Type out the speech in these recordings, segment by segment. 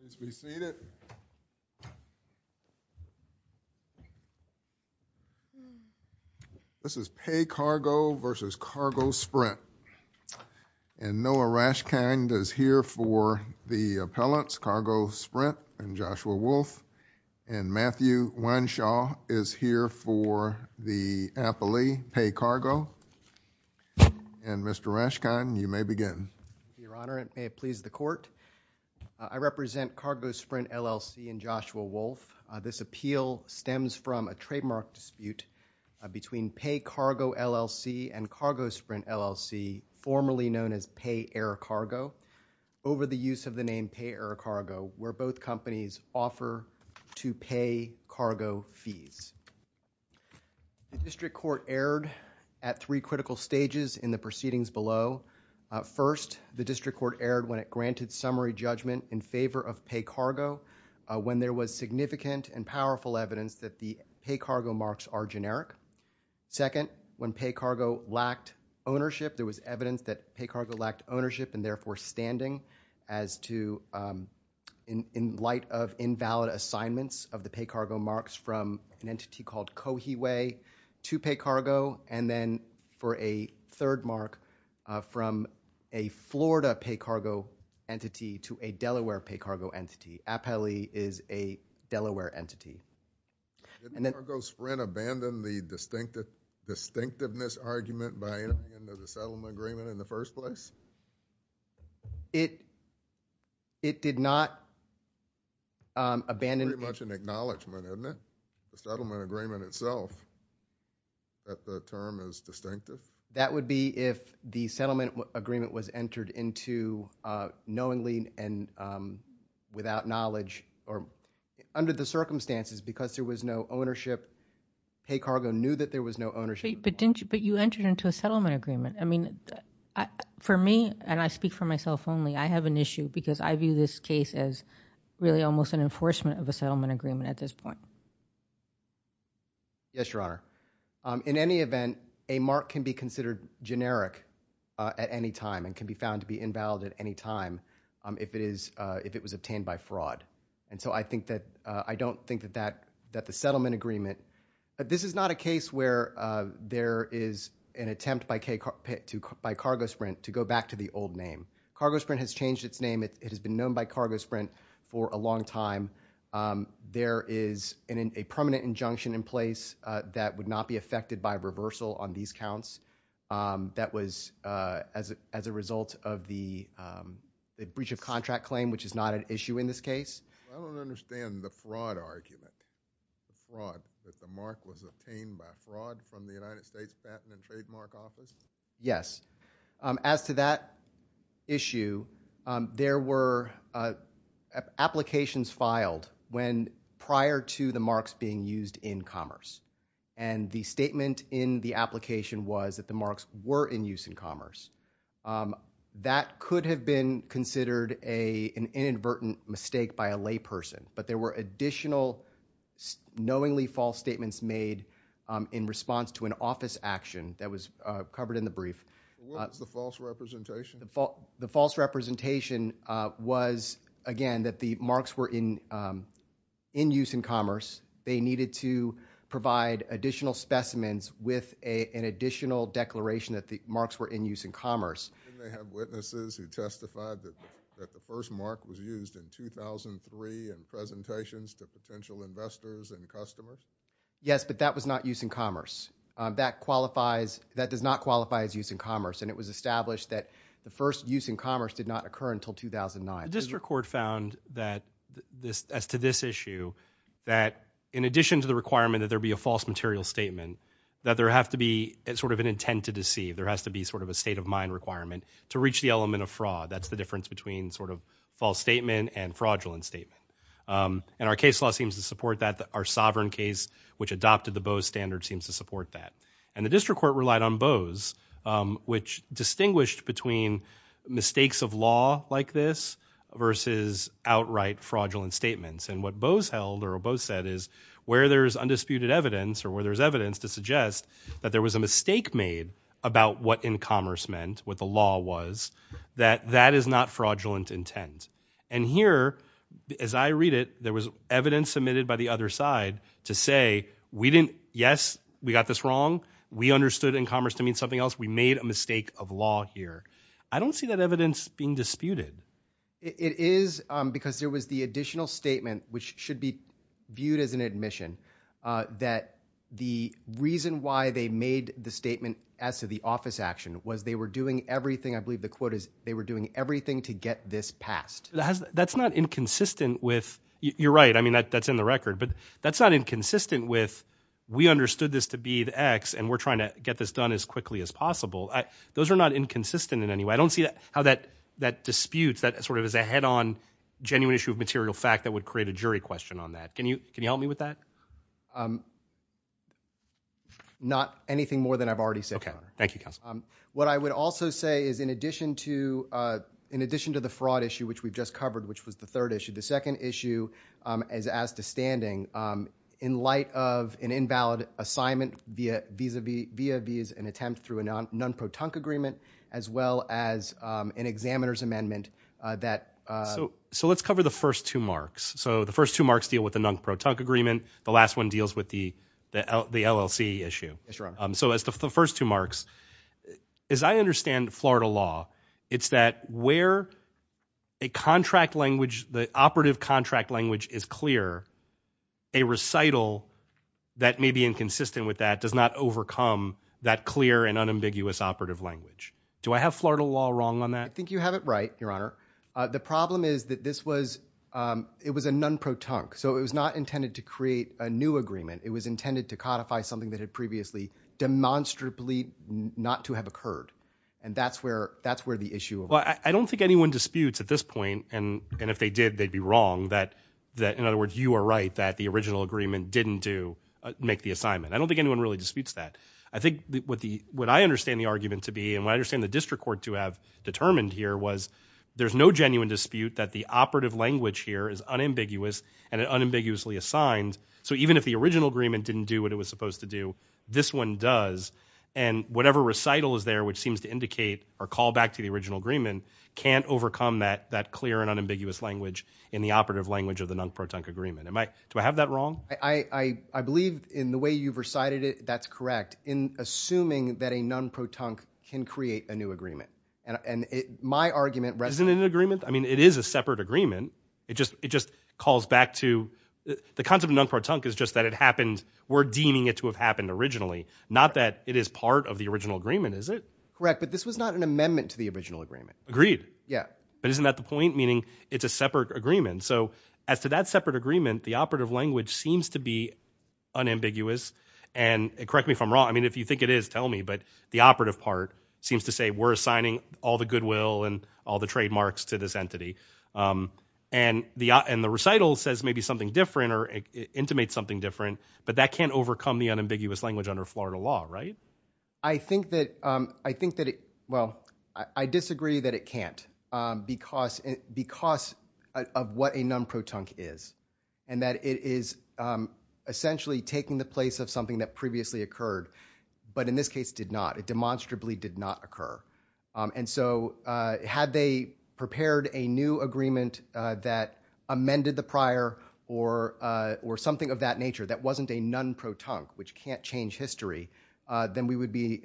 Please be seated. This is PayCargo v. CargoSprint. And Noah Rashkind is here for the appellants, CargoSprint, and Joshua Wolfe. And Matthew Wineshaw is here for the appellee, PayCargo. And Mr. Rashkind, you may begin. Your Honor, and may it please the Court, I represent CargoSprint, LLC and Joshua Wolfe. This appeal stems from a trademark dispute between PayCargo, LLC and CargoSprint, LLC, formerly known as PayAirCargo, over the use of the name PayAirCargo, where both companies offer to pay cargo fees. The District Court erred at three critical stages in the proceedings below. First, the District Court erred when it granted summary judgment in favor of PayCargo, when there was significant and powerful evidence that the PayCargo marks are generic. Second, when PayCargo lacked ownership, there was evidence that PayCargo lacked ownership and therefore standing as to, in light of invalid assignments of the PayCargo marks from an entity called Coheway to PayCargo. And then, for a third mark, from a Florida PayCargo entity to a Delaware PayCargo entity. Appellee is a Delaware entity. Didn't CargoSprint abandon the distinctiveness argument by end of the settlement agreement in the first place? It did not abandon. Pretty much an acknowledgment, isn't it? The settlement agreement itself, that the term is distinctive? That would be if the settlement agreement was entered into knowingly and without knowledge or under the circumstances, because there was no ownership, PayCargo knew that there was no ownership. But didn't you, but you entered into a settlement agreement. I mean, for me, and I speak for myself only, I have an issue because I view this case as really almost an enforcement of a settlement agreement at this point. Yes, Your Honor. In any event, a mark can be considered generic at any time and can be found to be invalid at any time if it is, if it was obtained by fraud. And so I think that, I don't think that that, that the settlement agreement, this is not a case where there is an attempt by CargoSprint to go back to the old name. CargoSprint has changed its name. It has been known by CargoSprint for a long time. There is a permanent injunction in place that would not be affected by reversal on these counts that was as a result of the breach of contract claim, which is not an issue in this case. I don't understand the fraud argument, the fraud, that the mark was obtained by fraud from the United States Patent and Trademark Office? Yes. As to that issue, there were applications filed when, prior to the marks being used in commerce. And the statement in the application was that the marks were in use in commerce. That could have been considered an inadvertent mistake by a layperson. But there were additional knowingly false statements made in response to an office action that was covered in the brief. What was the false representation? The false representation was, again, that the marks were in use in commerce. They needed to provide additional specimens with an additional declaration that the marks were in use in commerce. Didn't they have witnesses who testified that the first mark was used in 2003 in presentations to potential investors and customers? Yes, but that was not use in commerce. That qualifies, that does not qualify as use in commerce. And it was established that the first use in commerce did not occur until 2009. District Court found that, as to this issue, that in addition to the requirement that there be a false material statement, that there has to be sort of an intent to deceive, there has to be sort of a state of mind requirement to reach the element of fraud. That's the difference between sort of false statement and fraudulent statement. And our case law seems to support that. Our sovereign case, which adopted the Bose standard, seems to support that. And the District Court relied on Bose, which distinguished between mistakes of law like this versus outright fraudulent statements. And what Bose held, or what Bose said, is where there is undisputed evidence, or where what in commerce meant, what the law was, that that is not fraudulent intent. And here, as I read it, there was evidence submitted by the other side to say, yes, we got this wrong, we understood in commerce to mean something else, we made a mistake of law here. I don't see that evidence being disputed. It is because there was the additional statement, which should be viewed as an admission, that the reason why they made the statement as to the office action was they were doing everything, I believe the quote is, they were doing everything to get this passed. That's not inconsistent with, you're right, I mean, that's in the record, but that's not inconsistent with, we understood this to be the X, and we're trying to get this done as quickly as possible. Those are not inconsistent in any way. I don't see how that disputes, that sort of is a head-on, genuine issue of material fact that would create a jury question on that. Can you help me with that? Not anything more than I've already said. Thank you, Counselor. What I would also say is in addition to the fraud issue, which we've just covered, which was the third issue, the second issue, as to standing, in light of an invalid assignment via visa and attempt through a non-proton agreement, as well as an examiner's amendment, that So let's cover the first two marks. So the first two marks deal with the non-proton agreement. The last one deals with the LLC issue. So as to the first two marks, as I understand Florida law, it's that where a contract language, the operative contract language is clear, a recital that may be inconsistent with that does not overcome that clear and unambiguous operative language. Do I have Florida law wrong on that? I think you have it right, Your Honor. The problem is that this was, it was a non-proton. So it was not intended to create a new agreement. It was intended to codify something that had previously demonstrably not to have occurred. And that's where, that's where the issue of Well, I don't think anyone disputes at this point, and if they did, they'd be wrong, that in other words, you are right that the original agreement didn't do, make the assignment. I don't think anyone really disputes that. I think what the, what I understand the argument to be, and what I understand the district court to have determined here was there's no genuine dispute that the operative language here is unambiguous and unambiguously assigned. So even if the original agreement didn't do what it was supposed to do, this one does. And whatever recital is there, which seems to indicate or call back to the original agreement, can't overcome that, that clear and unambiguous language in the operative language of the non-proton agreement. Am I, do I have that wrong? I believe in the way you've recited it, that's correct. In fact, in assuming that a non-proton can create a new agreement and it, my argument Isn't it an agreement? I mean, it is a separate agreement. It just, it just calls back to the concept of non-proton is just that it happened. We're deeming it to have happened originally, not that it is part of the original agreement, is it? Correct. But this was not an amendment to the original agreement. Agreed. Yeah. But isn't that the point? Meaning it's a separate agreement. So as to that separate agreement, the operative language seems to be unambiguous and correct me if I'm wrong. I mean, if you think it is, tell me, but the operative part seems to say we're assigning all the goodwill and all the trademarks to this entity. And the, and the recital says maybe something different or intimate something different, but that can't overcome the unambiguous language under Florida law, right? I think that, I think that it, well, I disagree that it can't because, because of what a non-proton is and that it is essentially taking the place of something that previously occurred, but in this case did not, it demonstrably did not occur. And so had they prepared a new agreement that amended the prior or, or something of that nature that wasn't a non-proton, which can't change history, then we would be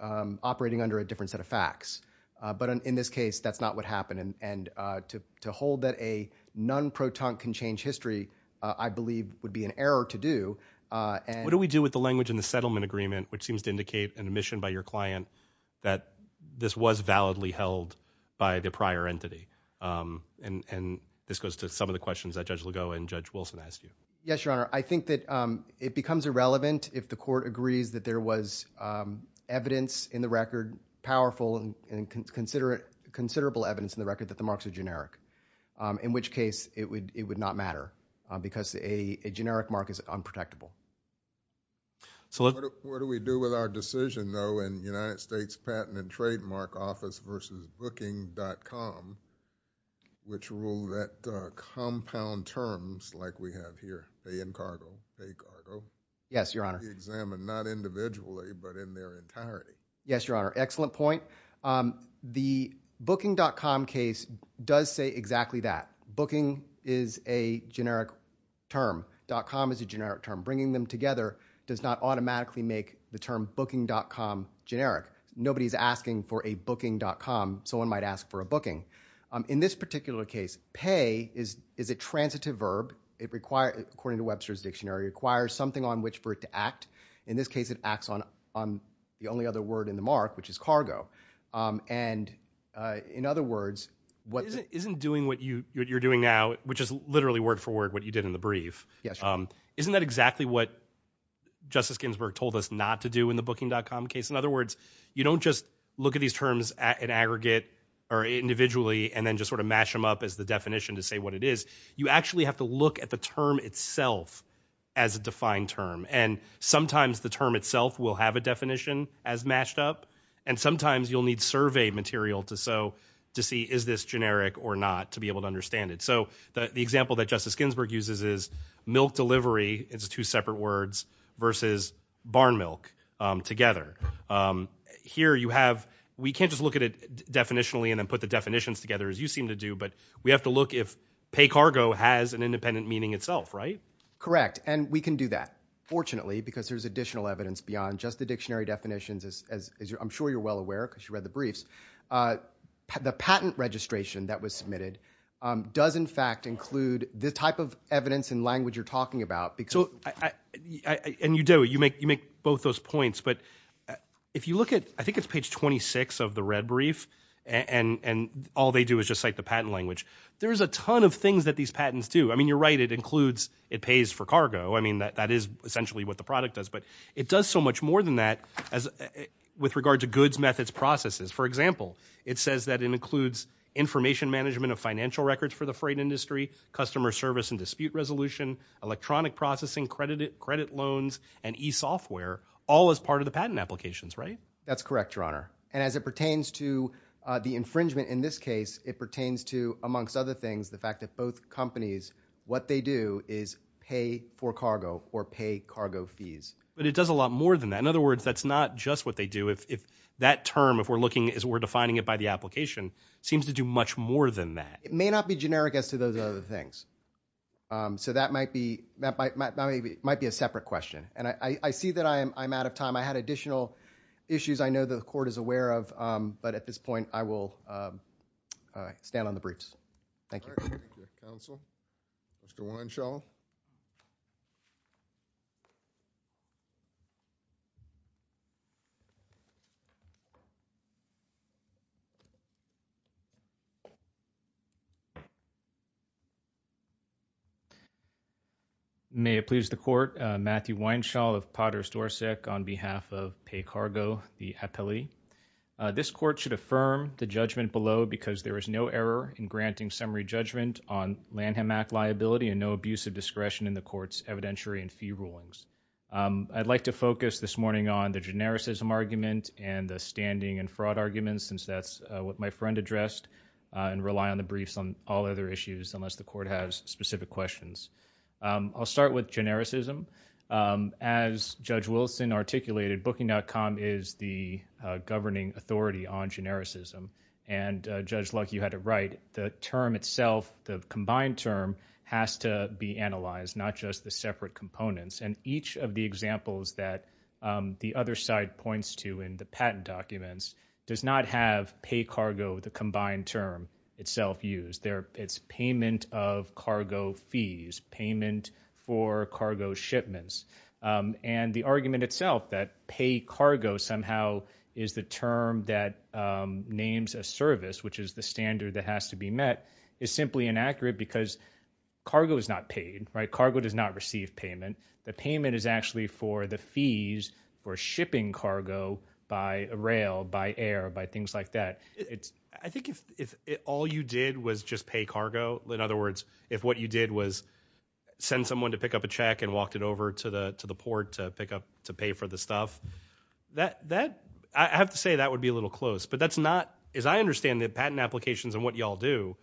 operating under a different set of facts. But in this case, that's not what happened. And, and, uh, to, to hold that a non-proton can change history, uh, I believe would be an error to do. Uh, and- What do we do with the language in the settlement agreement, which seems to indicate an admission by your client that this was validly held by the prior entity? Um, and, and this goes to some of the questions that Judge Lugo and Judge Wilson asked you. Yes, Your Honor. I think that, um, it becomes irrelevant if the court agrees that there was, um, evidence in the record, powerful and, and considerate, considerable evidence in the record that the marks are generic. Um, in which case it would, it would not matter, uh, because a, a generic mark is unprotectable. So let- What do, what do we do with our decision, though, in United States Patent and Trademark Office versus Booking.com, which rule that, uh, compound terms like we have here, pay in cargo, pay cargo- Yes, Your Honor. I think that would be examined not individually, but in their entirety. Yes, Your Honor. Excellent point. Um, the Booking.com case does say exactly that. Booking is a generic term. Dot com is a generic term. Bringing them together does not automatically make the term Booking.com generic. Nobody is asking for a Booking.com, so one might ask for a booking. Um, in this particular case, pay is, is a transitive verb. It requires, according to Webster's Dictionary, it requires something on which for it to act. In this case, it acts on, on the only other word in the mark, which is cargo. Um, and, uh, in other words, what- Isn't, isn't doing what you, what you're doing now, which is literally word for word what you did in the brief. Yes, Your Honor. Um, isn't that exactly what Justice Ginsburg told us not to do in the Booking.com case? In other words, you don't just look at these terms at, in aggregate or individually and then just sort of mash them up as the definition to say what it is. You actually have to look at the term itself as a defined term. And sometimes the term itself will have a definition as mashed up. And sometimes you'll need survey material to, so, to see is this generic or not to be able to understand it. So, the, the example that Justice Ginsburg uses is milk delivery, it's two separate words, versus barn milk, um, together. Um, here you have, we can't just look at it definitionally and then put the definitions together as you seem to do, but we have to look if pay cargo has an independent meaning itself, right? Correct. And we can do that, fortunately, because there's additional evidence beyond just the dictionary definitions as, as I'm sure you're well aware, because you read the briefs, uh, the patent registration that was submitted, um, does in fact include the type of evidence and language you're talking about because- So, I, I, I, and you do, you make, you make both those points, but if you look at, I think it's page 26 of the red brief, and, and all they do is just cite the patent language, there's a ton of things that these patents do. I mean, you're right, it includes, it pays for cargo, I mean, that, that is essentially what the product does. But it does so much more than that as, with regard to goods, methods, processes. For example, it says that it includes information management of financial records for the freight industry, customer service and dispute resolution, electronic processing, credit, credit loans, and e-software, all as part of the patent applications, right? That's correct, Your Honor. And as it pertains to, uh, the infringement in this case, it pertains to, amongst other things, the fact that both companies, what they do is pay for cargo, or pay cargo fees. But it does a lot more than that, in other words, that's not just what they do, if, if that term, if we're looking, as we're defining it by the application, seems to do much more than that. It may not be generic as to those other things, um, so that might be, that might, might, might be a separate question. And I, I, I see that I am, I'm out of time. I had additional issues I know the Court is aware of, um, but at this point, I will, um, uh, stand on the briefs. Thank you. All right. Thank you, Counsel. Mr. Weinshaw. May it please the Court, uh, Matthew Weinshaw of Potter's Dorset on behalf of Pay Cargo, the appellee. Uh, this Court should affirm the judgment below because there is no error in granting summary judgment on Lanham Act liability and no abuse of discretion in the Court's evidentiary and fee rulings. Um, I'd like to focus this morning on the genericism argument and the standing and fraud argument since that's, uh, what my friend addressed, uh, and rely on the briefs on all other issues unless the Court has specific questions. Um, I'll start with genericism. Um, as Judge Wilson articulated, Booking.com is the, uh, governing authority on genericism and, uh, Judge Luck, you had it right. The term itself, the combined term, has to be analyzed, not just the separate components. And each of the examples that, um, the other side points to in the patent documents does not have pay cargo, the combined term itself, used there. It's payment of cargo fees, payment for cargo shipments. Um, and the argument itself that pay cargo somehow is the term that, um, names a service, which is the standard that has to be met, is simply inaccurate because cargo is not paid, right? Cargo does not receive payment. The payment is actually for the fees for shipping cargo by rail, by air, by things like that. It's... I think if, if all you did was just pay cargo, in other words, if what you did was send someone to pick up a check and walked it over to the, to the port to pick up, to pay for the stuff, that, that, I have to say that would be a little close. But that's not, as I understand the patent applications and what y'all do,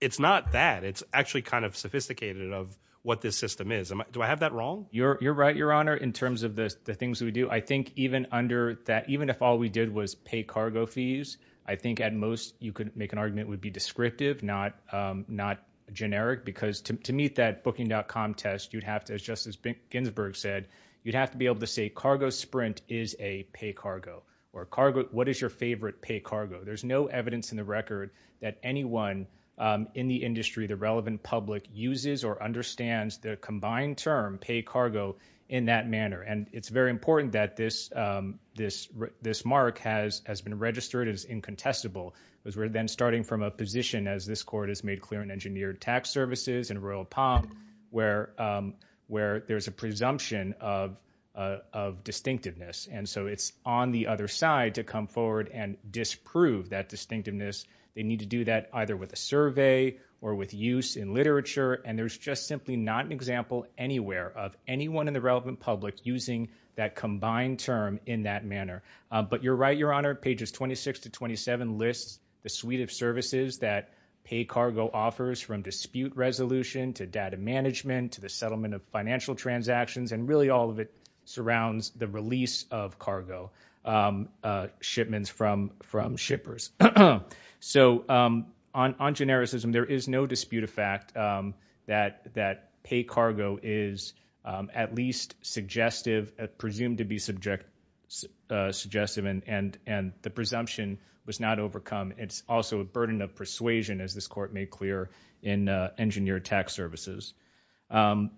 it's not that. It's actually kind of sophisticated of what this system is. Am I, do I have that wrong? You're, you're right, Your Honor, in terms of the, the things that we do. I think even under that, even if all we did was pay cargo fees, I think at most you could make an argument it would be descriptive, not, um, not generic because to, to meet that contest, you'd have to, as Justice Ginsburg said, you'd have to be able to say cargo sprint is a pay cargo or cargo. What is your favorite pay cargo? There's no evidence in the record that anyone, um, in the industry, the relevant public uses or understands the combined term pay cargo in that manner. And it's very important that this, um, this, this mark has, has been registered as incontestable because we're then starting from a position as this court has made clear and engineered tax services and Royal Palm where, um, where there's a presumption of, uh, of distinctiveness. And so it's on the other side to come forward and disprove that distinctiveness. They need to do that either with a survey or with use in literature. And there's just simply not an example anywhere of anyone in the relevant public using that combined term in that manner. But you're right, Your Honor, pages 26 to 27 lists the suite of services that pay cargo offers from dispute resolution to data management, to the settlement of financial transactions. And really all of it surrounds the release of cargo, um, uh, shipments from, from shippers. So, um, on, on genericism, there is no dispute of fact, um, that, that pay cargo is, um, at least suggestive at presumed to be subject, uh, suggestive and, and, and the presumption was not overcome. Um, it's also a burden of persuasion as this court made clear in, uh, engineered tax services. Um,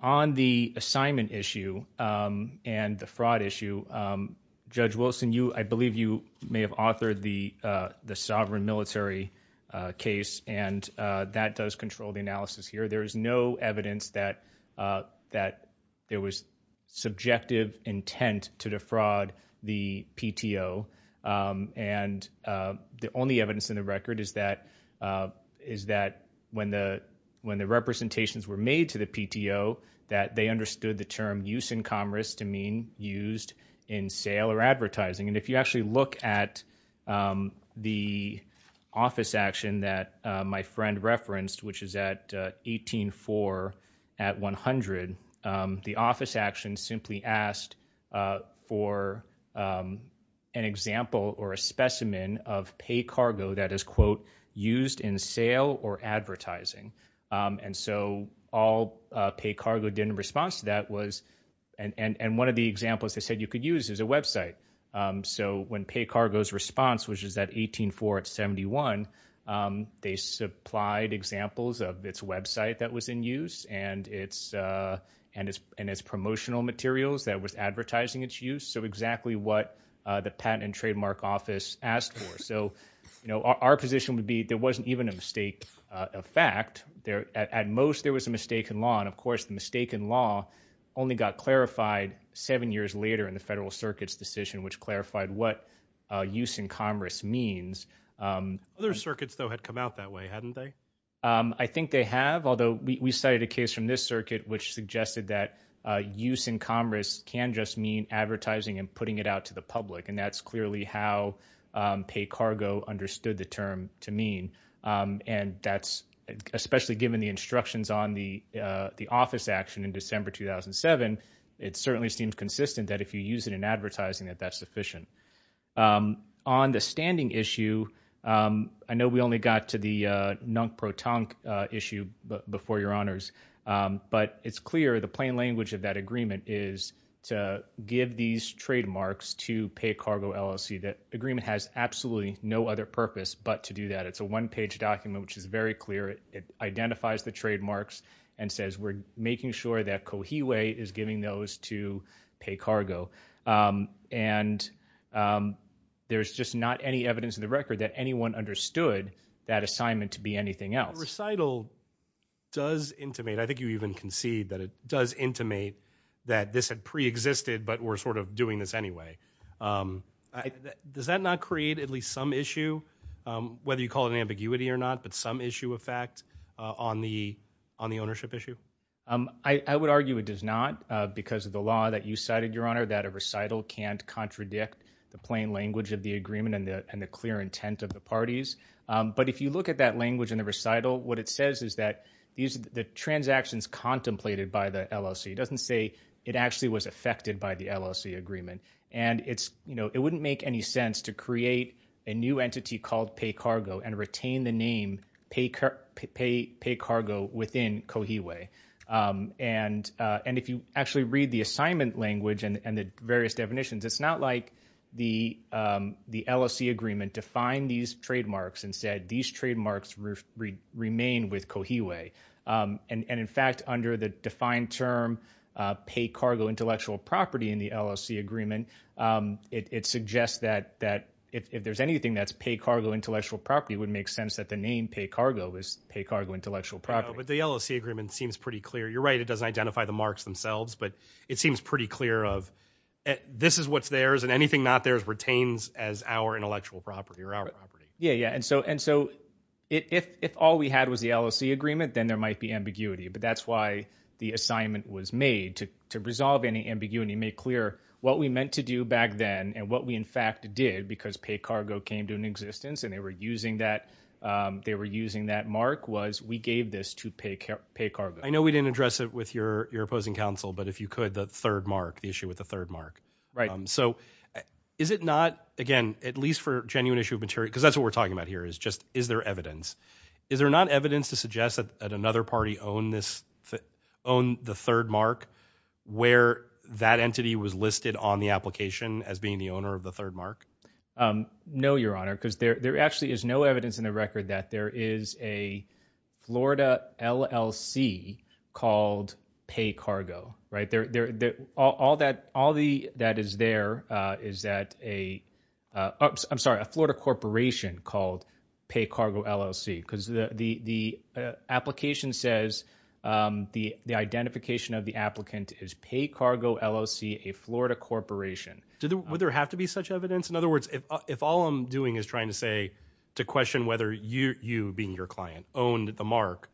on the assignment issue, um, and the fraud issue, um, Judge Wilson, you, I believe you may have authored the, uh, the sovereign military, uh, case and, uh, that does control the analysis here. There is no evidence that, uh, that there was subjective intent to defraud the PTO. Um, and, uh, the only evidence in the record is that, uh, is that when the, when the representations were made to the PTO that they understood the term use in commerce to mean used in sale or advertising. And if you actually look at, um, the office action that, uh, my friend referenced, which is at, uh, 18-4 at 100, um, the office action simply asked, uh, for, um, an example or a specimen of pay cargo that is, quote, used in sale or advertising. Um, and so all, uh, pay cargo did in response to that was, and, and, and one of the examples they said you could use is a website. Um, so when pay cargo's response, which is at 18-4 at 71, um, they supplied examples of its website that was in use and its, uh, and its, and its promotional materials that was advertising its use. So exactly what, uh, the patent and trademark office asked for. So, you know, our, our position would be there wasn't even a mistake, uh, a fact there at most there was a mistake in law. And of course the mistake in law only got clarified seven years later in the federal circuit's decision, which clarified what, uh, use in commerce means. Um. Other circuits though had come out that way, hadn't they? Um, I think they have, although we, we cited a case from this circuit, which suggested that, uh, use in commerce can just mean advertising and putting it out to the public. And that's clearly how, um, pay cargo understood the term to mean. Um, and that's especially given the instructions on the, uh, the office action in December 2007. It certainly seems consistent that if you use it in advertising that that's sufficient. Um, on the standing issue, um, I know we only got to the, uh, non-proton, uh, issue before your honors. Um, but it's clear the plain language of that agreement is to give these trademarks to pay cargo LLC. That agreement has absolutely no other purpose, but to do that. It's a one page document, which is very clear. It, it identifies the trademarks and says, we're making sure that Coheway is giving those to pay cargo. Um, and, um, there's just not any evidence in the record that anyone understood that assignment to be anything else. Recital does intimate, I think you even concede that it does intimate that this had preexisted, but we're sort of doing this anyway. Um, does that not create at least some issue, um, whether you call it an ambiguity or not, but some issue of fact, uh, on the, on the ownership issue? Um, I, I would argue it does not, uh, because of the law that you cited your honor, that a recital can't contradict the plain language of the agreement and the, and the clear intent of the parties. Um, but if you look at that language in the recital, what it says is that these, the transactions contemplated by the LLC, it doesn't say it actually was affected by the LLC agreement and it's, you know, it wouldn't make any sense to create a new entity called pay cargo and retain the name pay car, pay, pay cargo within Cohee way. Um, and, uh, and if you actually read the assignment language and, and the various definitions, it's not like the, um, the LLC agreement defined these trademarks and said, these trademarks roof remain with Cohee way. Um, and, and in fact, under the defined term, uh, pay cargo intellectual property in the LLC agreement, um, it, it suggests that, that if there's anything that's pay cargo intellectual property, it would make sense that the name pay cargo is pay cargo intellectual property. But the LLC agreement seems pretty clear. You're right. It doesn't identify the marks themselves, but it seems pretty clear of this is what's theirs and anything not theirs retains as our intellectual property or our property. Yeah. Yeah. And so, and so it, if, if all we had was the LLC agreement, then there might be ambiguity, but that's why the assignment was made to, to resolve any ambiguity, make clear what and they were using that, um, they were using that mark was we gave this to pay, pay cargo. I know we didn't address it with your, your opposing counsel, but if you could, the third mark, the issue with the third mark. Right. Um, so is it not again, at least for genuine issue of material, cause that's what we're talking about here is just, is there evidence, is there not evidence to suggest that at another party own this, own the third mark where that entity was listed on the application as being the owner of the third mark? Um, no, your honor, cause there, there actually is no evidence in the record that there is a Florida LLC called pay cargo, right there, there, all that, all the, that is there, uh, is that a, uh, I'm sorry, a Florida corporation called pay cargo LLC because the, the, uh, application says, um, the, the identification of the applicant is pay cargo LLC, a Florida corporation. Would there have to be such evidence? In other words, if, if all I'm doing is trying to say, to question whether you, you being your client owned the mark,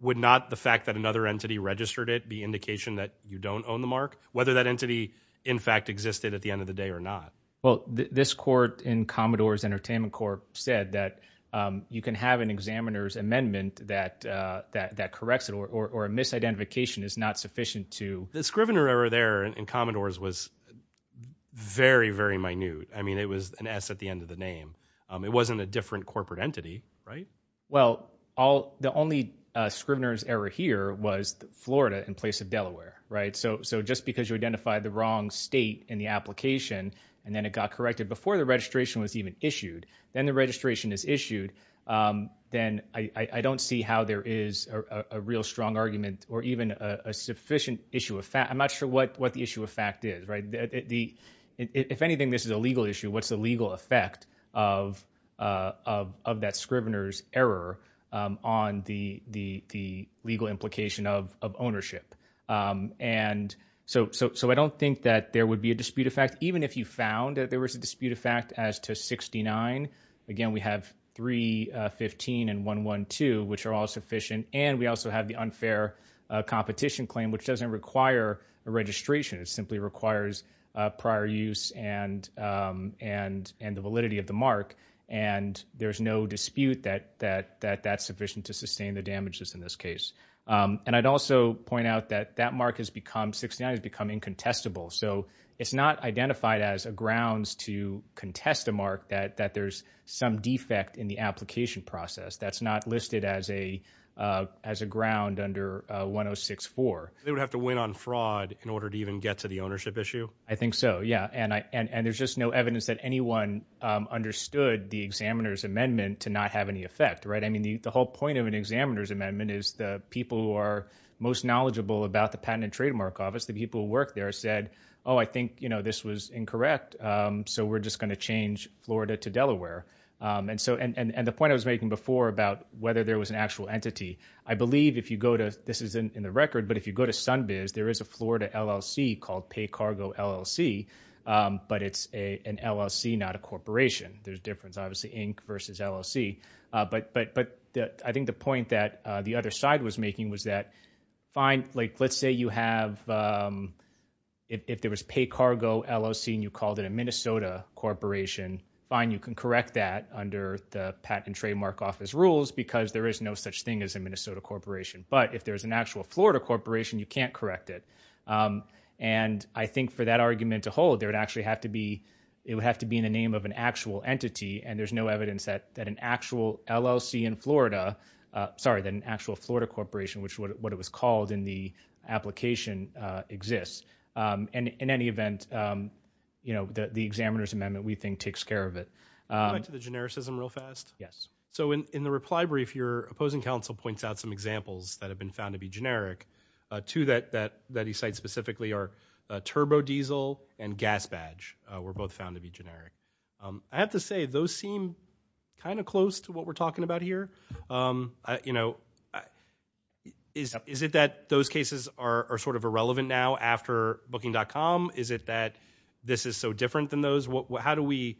would not the fact that another entity registered it be indication that you don't own the mark, whether that entity in fact existed at the end of the day or not? Well, this court in Commodore's entertainment court said that, um, you can have an examiner's amendment that, uh, that, that corrects it or, or, or a misidentification is not sufficient to. The Scrivener error there in Commodore's was very, very minute. I mean, it was an S at the end of the name. Um, it wasn't a different corporate entity, right? Well, all the only, uh, Scrivener's error here was Florida in place of Delaware, right? So, so just because you identified the wrong state in the application and then it got corrected before the registration was even issued, then the registration is issued. Um, then I, I don't see how there is a real strong argument or even a sufficient issue of fact. I'm not sure what, what the issue of fact is, right? The, if anything, this is a legal issue. What's the legal effect of, uh, of, of that Scrivener's error, um, on the, the, the legal implication of, of ownership. Um, and so, so, so I don't think that there would be a dispute of fact, even if you found that there was a dispute of fact as to 69, again, we have three, uh, 15 and one, one, two, which are all sufficient. And we also have the unfair, uh, competition claim, which doesn't require a registration. It simply requires a prior use and, um, and, and the validity of the mark. And there's no dispute that, that, that that's sufficient to sustain the damages in this case. Um, and I'd also point out that that mark has become 69 has become incontestable. So it's not identified as a grounds to contest a mark that, that there's some defect in the application process. That's not listed as a, uh, as a ground under, uh, 1064. They would have to win on fraud in order to even get to the ownership issue. I think so. Yeah. And I, and, and there's just no evidence that anyone, um, understood the examiner's amendment to not have any effect, right? I mean, the, the whole point of an examiner's amendment is the people who are most knowledgeable about the patent and trademark office, the people who work there said, oh, I think, you know, this was incorrect. Um, so we're just going to change Florida to Delaware. Um, and so, and, and, and the point I was making before about whether there was an actual entity, I believe if you go to, this is in the record, but if you go to Sunbiz, there is a Florida LLC called pay cargo LLC, um, but it's a, an LLC, not a corporation. There's difference, obviously Inc versus LLC. Uh, but, but, but the, I think the point that, uh, the other side was making was that fine. Like, let's say you have, um, if, if there was pay cargo LLC and you called it a Minnesota corporation, fine, you can correct that under the patent and trademark office rules because there is no such thing as a Minnesota corporation. But if there's an actual Florida corporation, you can't correct it. Um, and I think for that argument to hold there, it actually have to be, it would have to be in the name of an actual entity. And there's no evidence that, that an actual LLC in Florida, uh, sorry, then actual Florida corporation, which is what it was called in the application, uh, exists. Um, and in any event, um, you know, the, the examiner's amendment we think takes care of it. Um, Back to the genericism real fast. Yes. So in, in the reply brief, your opposing counsel points out some examples that have been found to be generic, uh, to that, that, that he cites specifically are a turbo diesel and gas badge. Uh, we're both found to be generic. Um, I have to say those seem kind of close to what we're talking about here. Um, you know, is, is it that those cases are, are sort of irrelevant now after booking.com? Is it that this is so different than those? What, how do we,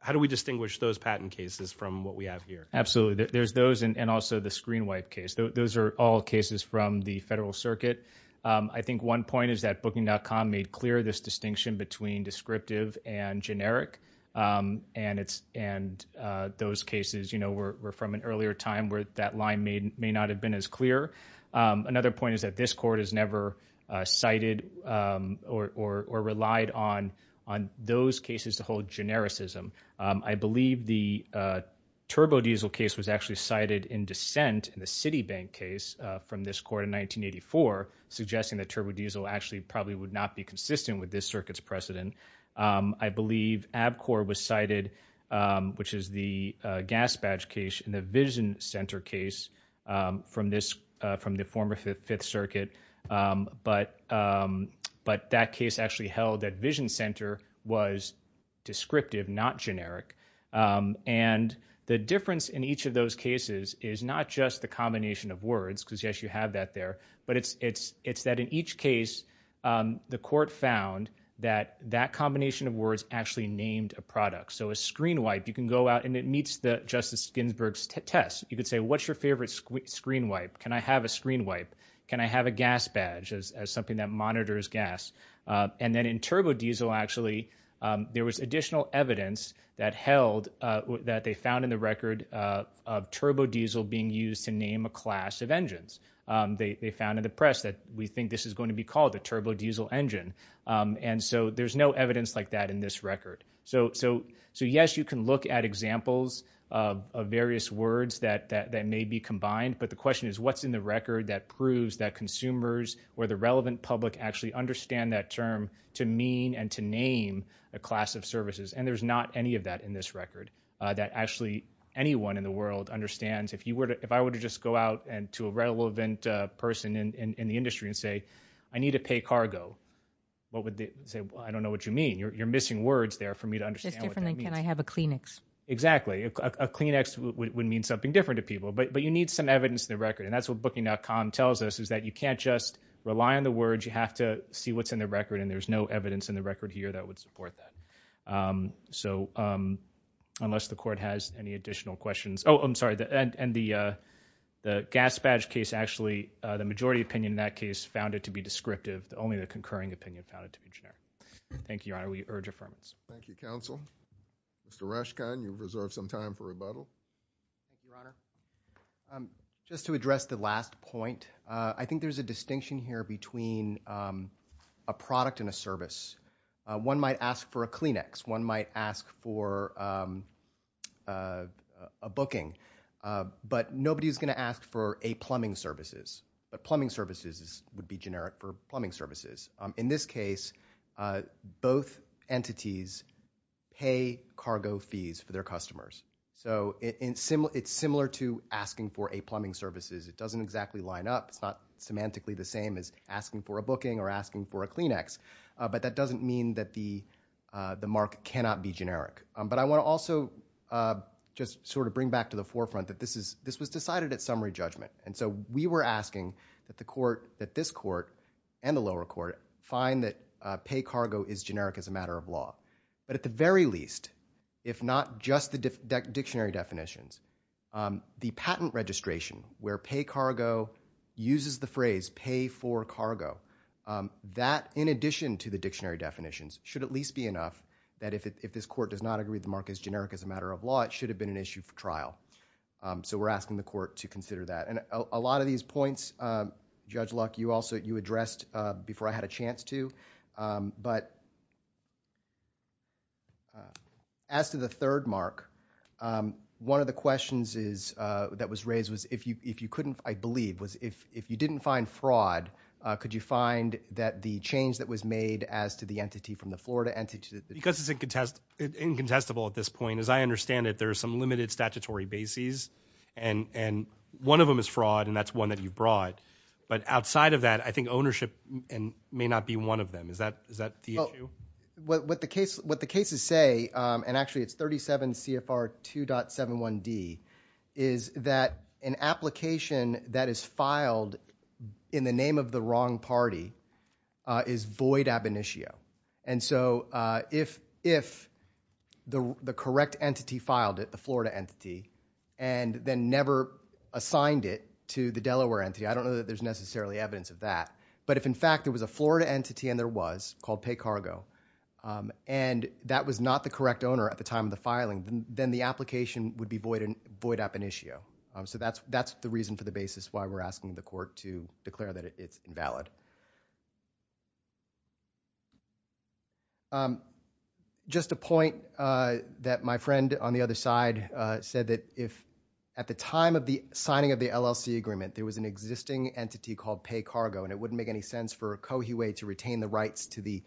how do we distinguish those patent cases from what we have here? Absolutely. There's those, and also the screen wipe case. Those are all cases from the federal circuit. Um, I think one point is that booking.com made clear this distinction between descriptive and generic, um, and it's, and, uh, those cases, you know, we're, we're from an earlier time where that line may, may not have been as clear. Um, another point is that this court has never, uh, cited, um, or, or, or relied on, on those cases to hold genericism. Um, I believe the, uh, turbo diesel case was actually cited in dissent in the Citibank case, uh, from this court in 1984, suggesting that turbo diesel actually probably would not be consistent with this circuit's precedent. Um, I believe ABCOR was cited, um, which is the, uh, gas badge case in the Vision Center case, um, from this, uh, from the former Fifth, Fifth Circuit, um, but, um, but that case actually held that Vision Center was descriptive, not generic, um, and the difference in each of those cases is not just the combination of words, because yes, you have that there, but it's, it's, it's that in each case, um, the court found that that combination of words actually named a product. So a screen wipe, you can go out and it meets the Justice Ginsburg's test. You could say, what's your favorite screen wipe? Can I have a screen wipe? Can I have a gas badge as, as something that monitors gas? Uh, and then in turbo diesel, actually, um, there was additional evidence that held, uh, that they found in the record, uh, of turbo diesel being used to name a class of engines. Um, they, they found in the press that we think this is going to be called the turbo diesel engine. Um, and so there's no evidence like that in this record. So, so, so yes, you can look at examples, uh, of various words that, that, that may be combined, but the question is what's in the record that proves that consumers or the relevant public actually understand that term to mean and to name a class of services. And there's not any of that in this record, uh, that actually anyone in the world understands if you were to, if I were to just go out and to a relevant, uh, person in, in, in the industry and say, I need to pay cargo, what would they say? Well, I don't know what you mean. You're, you're missing words there for me to understand what that means. It's different than can I have a Kleenex? Exactly. A Kleenex would, would mean something different to people, but, but you need some evidence in the record. And that's what booking.com tells us is that you can't just rely on the words, you have to see what's in the record and there's no evidence in the record here that would support that. Um, so, um, unless the court has any additional questions. Oh, I'm sorry. And the, uh, the gas badge case, actually, uh, the majority opinion in that case found it to be descriptive. The only, the concurring opinion found it to be generic. Thank you, Your Honor. We urge affirmance. Thank you, counsel. Mr. Rashkind, you've reserved some time for rebuttal. Thank you, Your Honor. Just to address the last point, uh, I think there's a distinction here between, um, a product and a service. One might ask for a Kleenex. One might ask for, um, uh, a booking, uh, but nobody's going to ask for a plumbing services. But plumbing services is, would be generic for plumbing services. Um, in this case, uh, both entities pay cargo fees for their customers. So it, it's similar, it's similar to asking for a plumbing services. It doesn't exactly line up. It's not semantically the same as asking for a booking or asking for a Kleenex, uh, but that doesn't mean that the, uh, the mark cannot be generic. Um, but I want to also, uh, just sort of bring back to the forefront that this is, this was decided at summary judgment. And so we were asking that the court, that this court and the lower court find that, uh, pay cargo is generic as a matter of law. But at the very least, if not just the dictionary definitions, um, the patent registration where pay cargo uses the phrase pay for cargo, um, that in addition to the dictionary definitions should at least be enough that if, if this court does not agree the mark is generic as a matter of law, it should have been an issue for trial. Um, so we're asking the court to consider that. And a lot of these points, um, Judge Luck, you also, you addressed, uh, before I had a chance to, um, but, uh, as to the third mark, um, one of the questions is, uh, that was raised was if you, if you couldn't, I believe was if, if you didn't find fraud, uh, could you find that the change that was made as to the entity from the Florida entity to the- Because it's incontestable at this point, as I understand it, there are some limited statutory bases and, and one of them is fraud and that's one that you brought. But outside of that, I think ownership may not be one of them. Is that, is that the issue? Um, what, what the case, what the cases say, um, and actually it's 37 CFR 2.71D, is that an application that is filed in the name of the wrong party, uh, is void ab initio. And so, uh, if, if the, the correct entity filed it, the Florida entity, and then never assigned it to the Delaware entity, I don't know that there's necessarily evidence of that, but if in fact there was a Florida entity, and there was, called PayCargo, um, and that was not the correct owner at the time of the filing, then, then the application would be void, void ab initio. Um, so that's, that's the reason for the basis why we're asking the court to declare that it's invalid. Um, just a point, uh, that my friend on the other side, uh, said that if at the time of it wouldn't make any sense for Coahuila to retain the rights to the,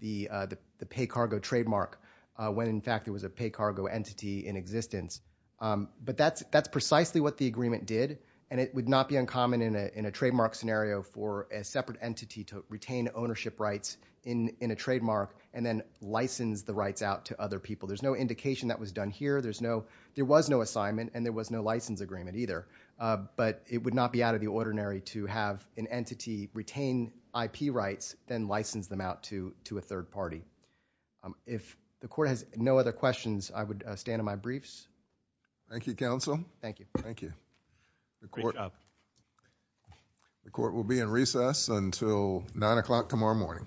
the, uh, the PayCargo trademark, uh, when in fact there was a PayCargo entity in existence. Um, but that's, that's precisely what the agreement did, and it would not be uncommon in a, in a trademark scenario for a separate entity to retain ownership rights in, in a trademark and then license the rights out to other people. There's no indication that was done here. There's no, there was no assignment, and there was no license agreement either, uh, but it would not be out of the ordinary to have an entity retain IP rights, then license them out to, to a third party. Um, if the court has no other questions, I would, uh, stand on my briefs. Thank you, counsel. Thank you. Thank you. The court, the court will be in recess until nine o'clock tomorrow morning.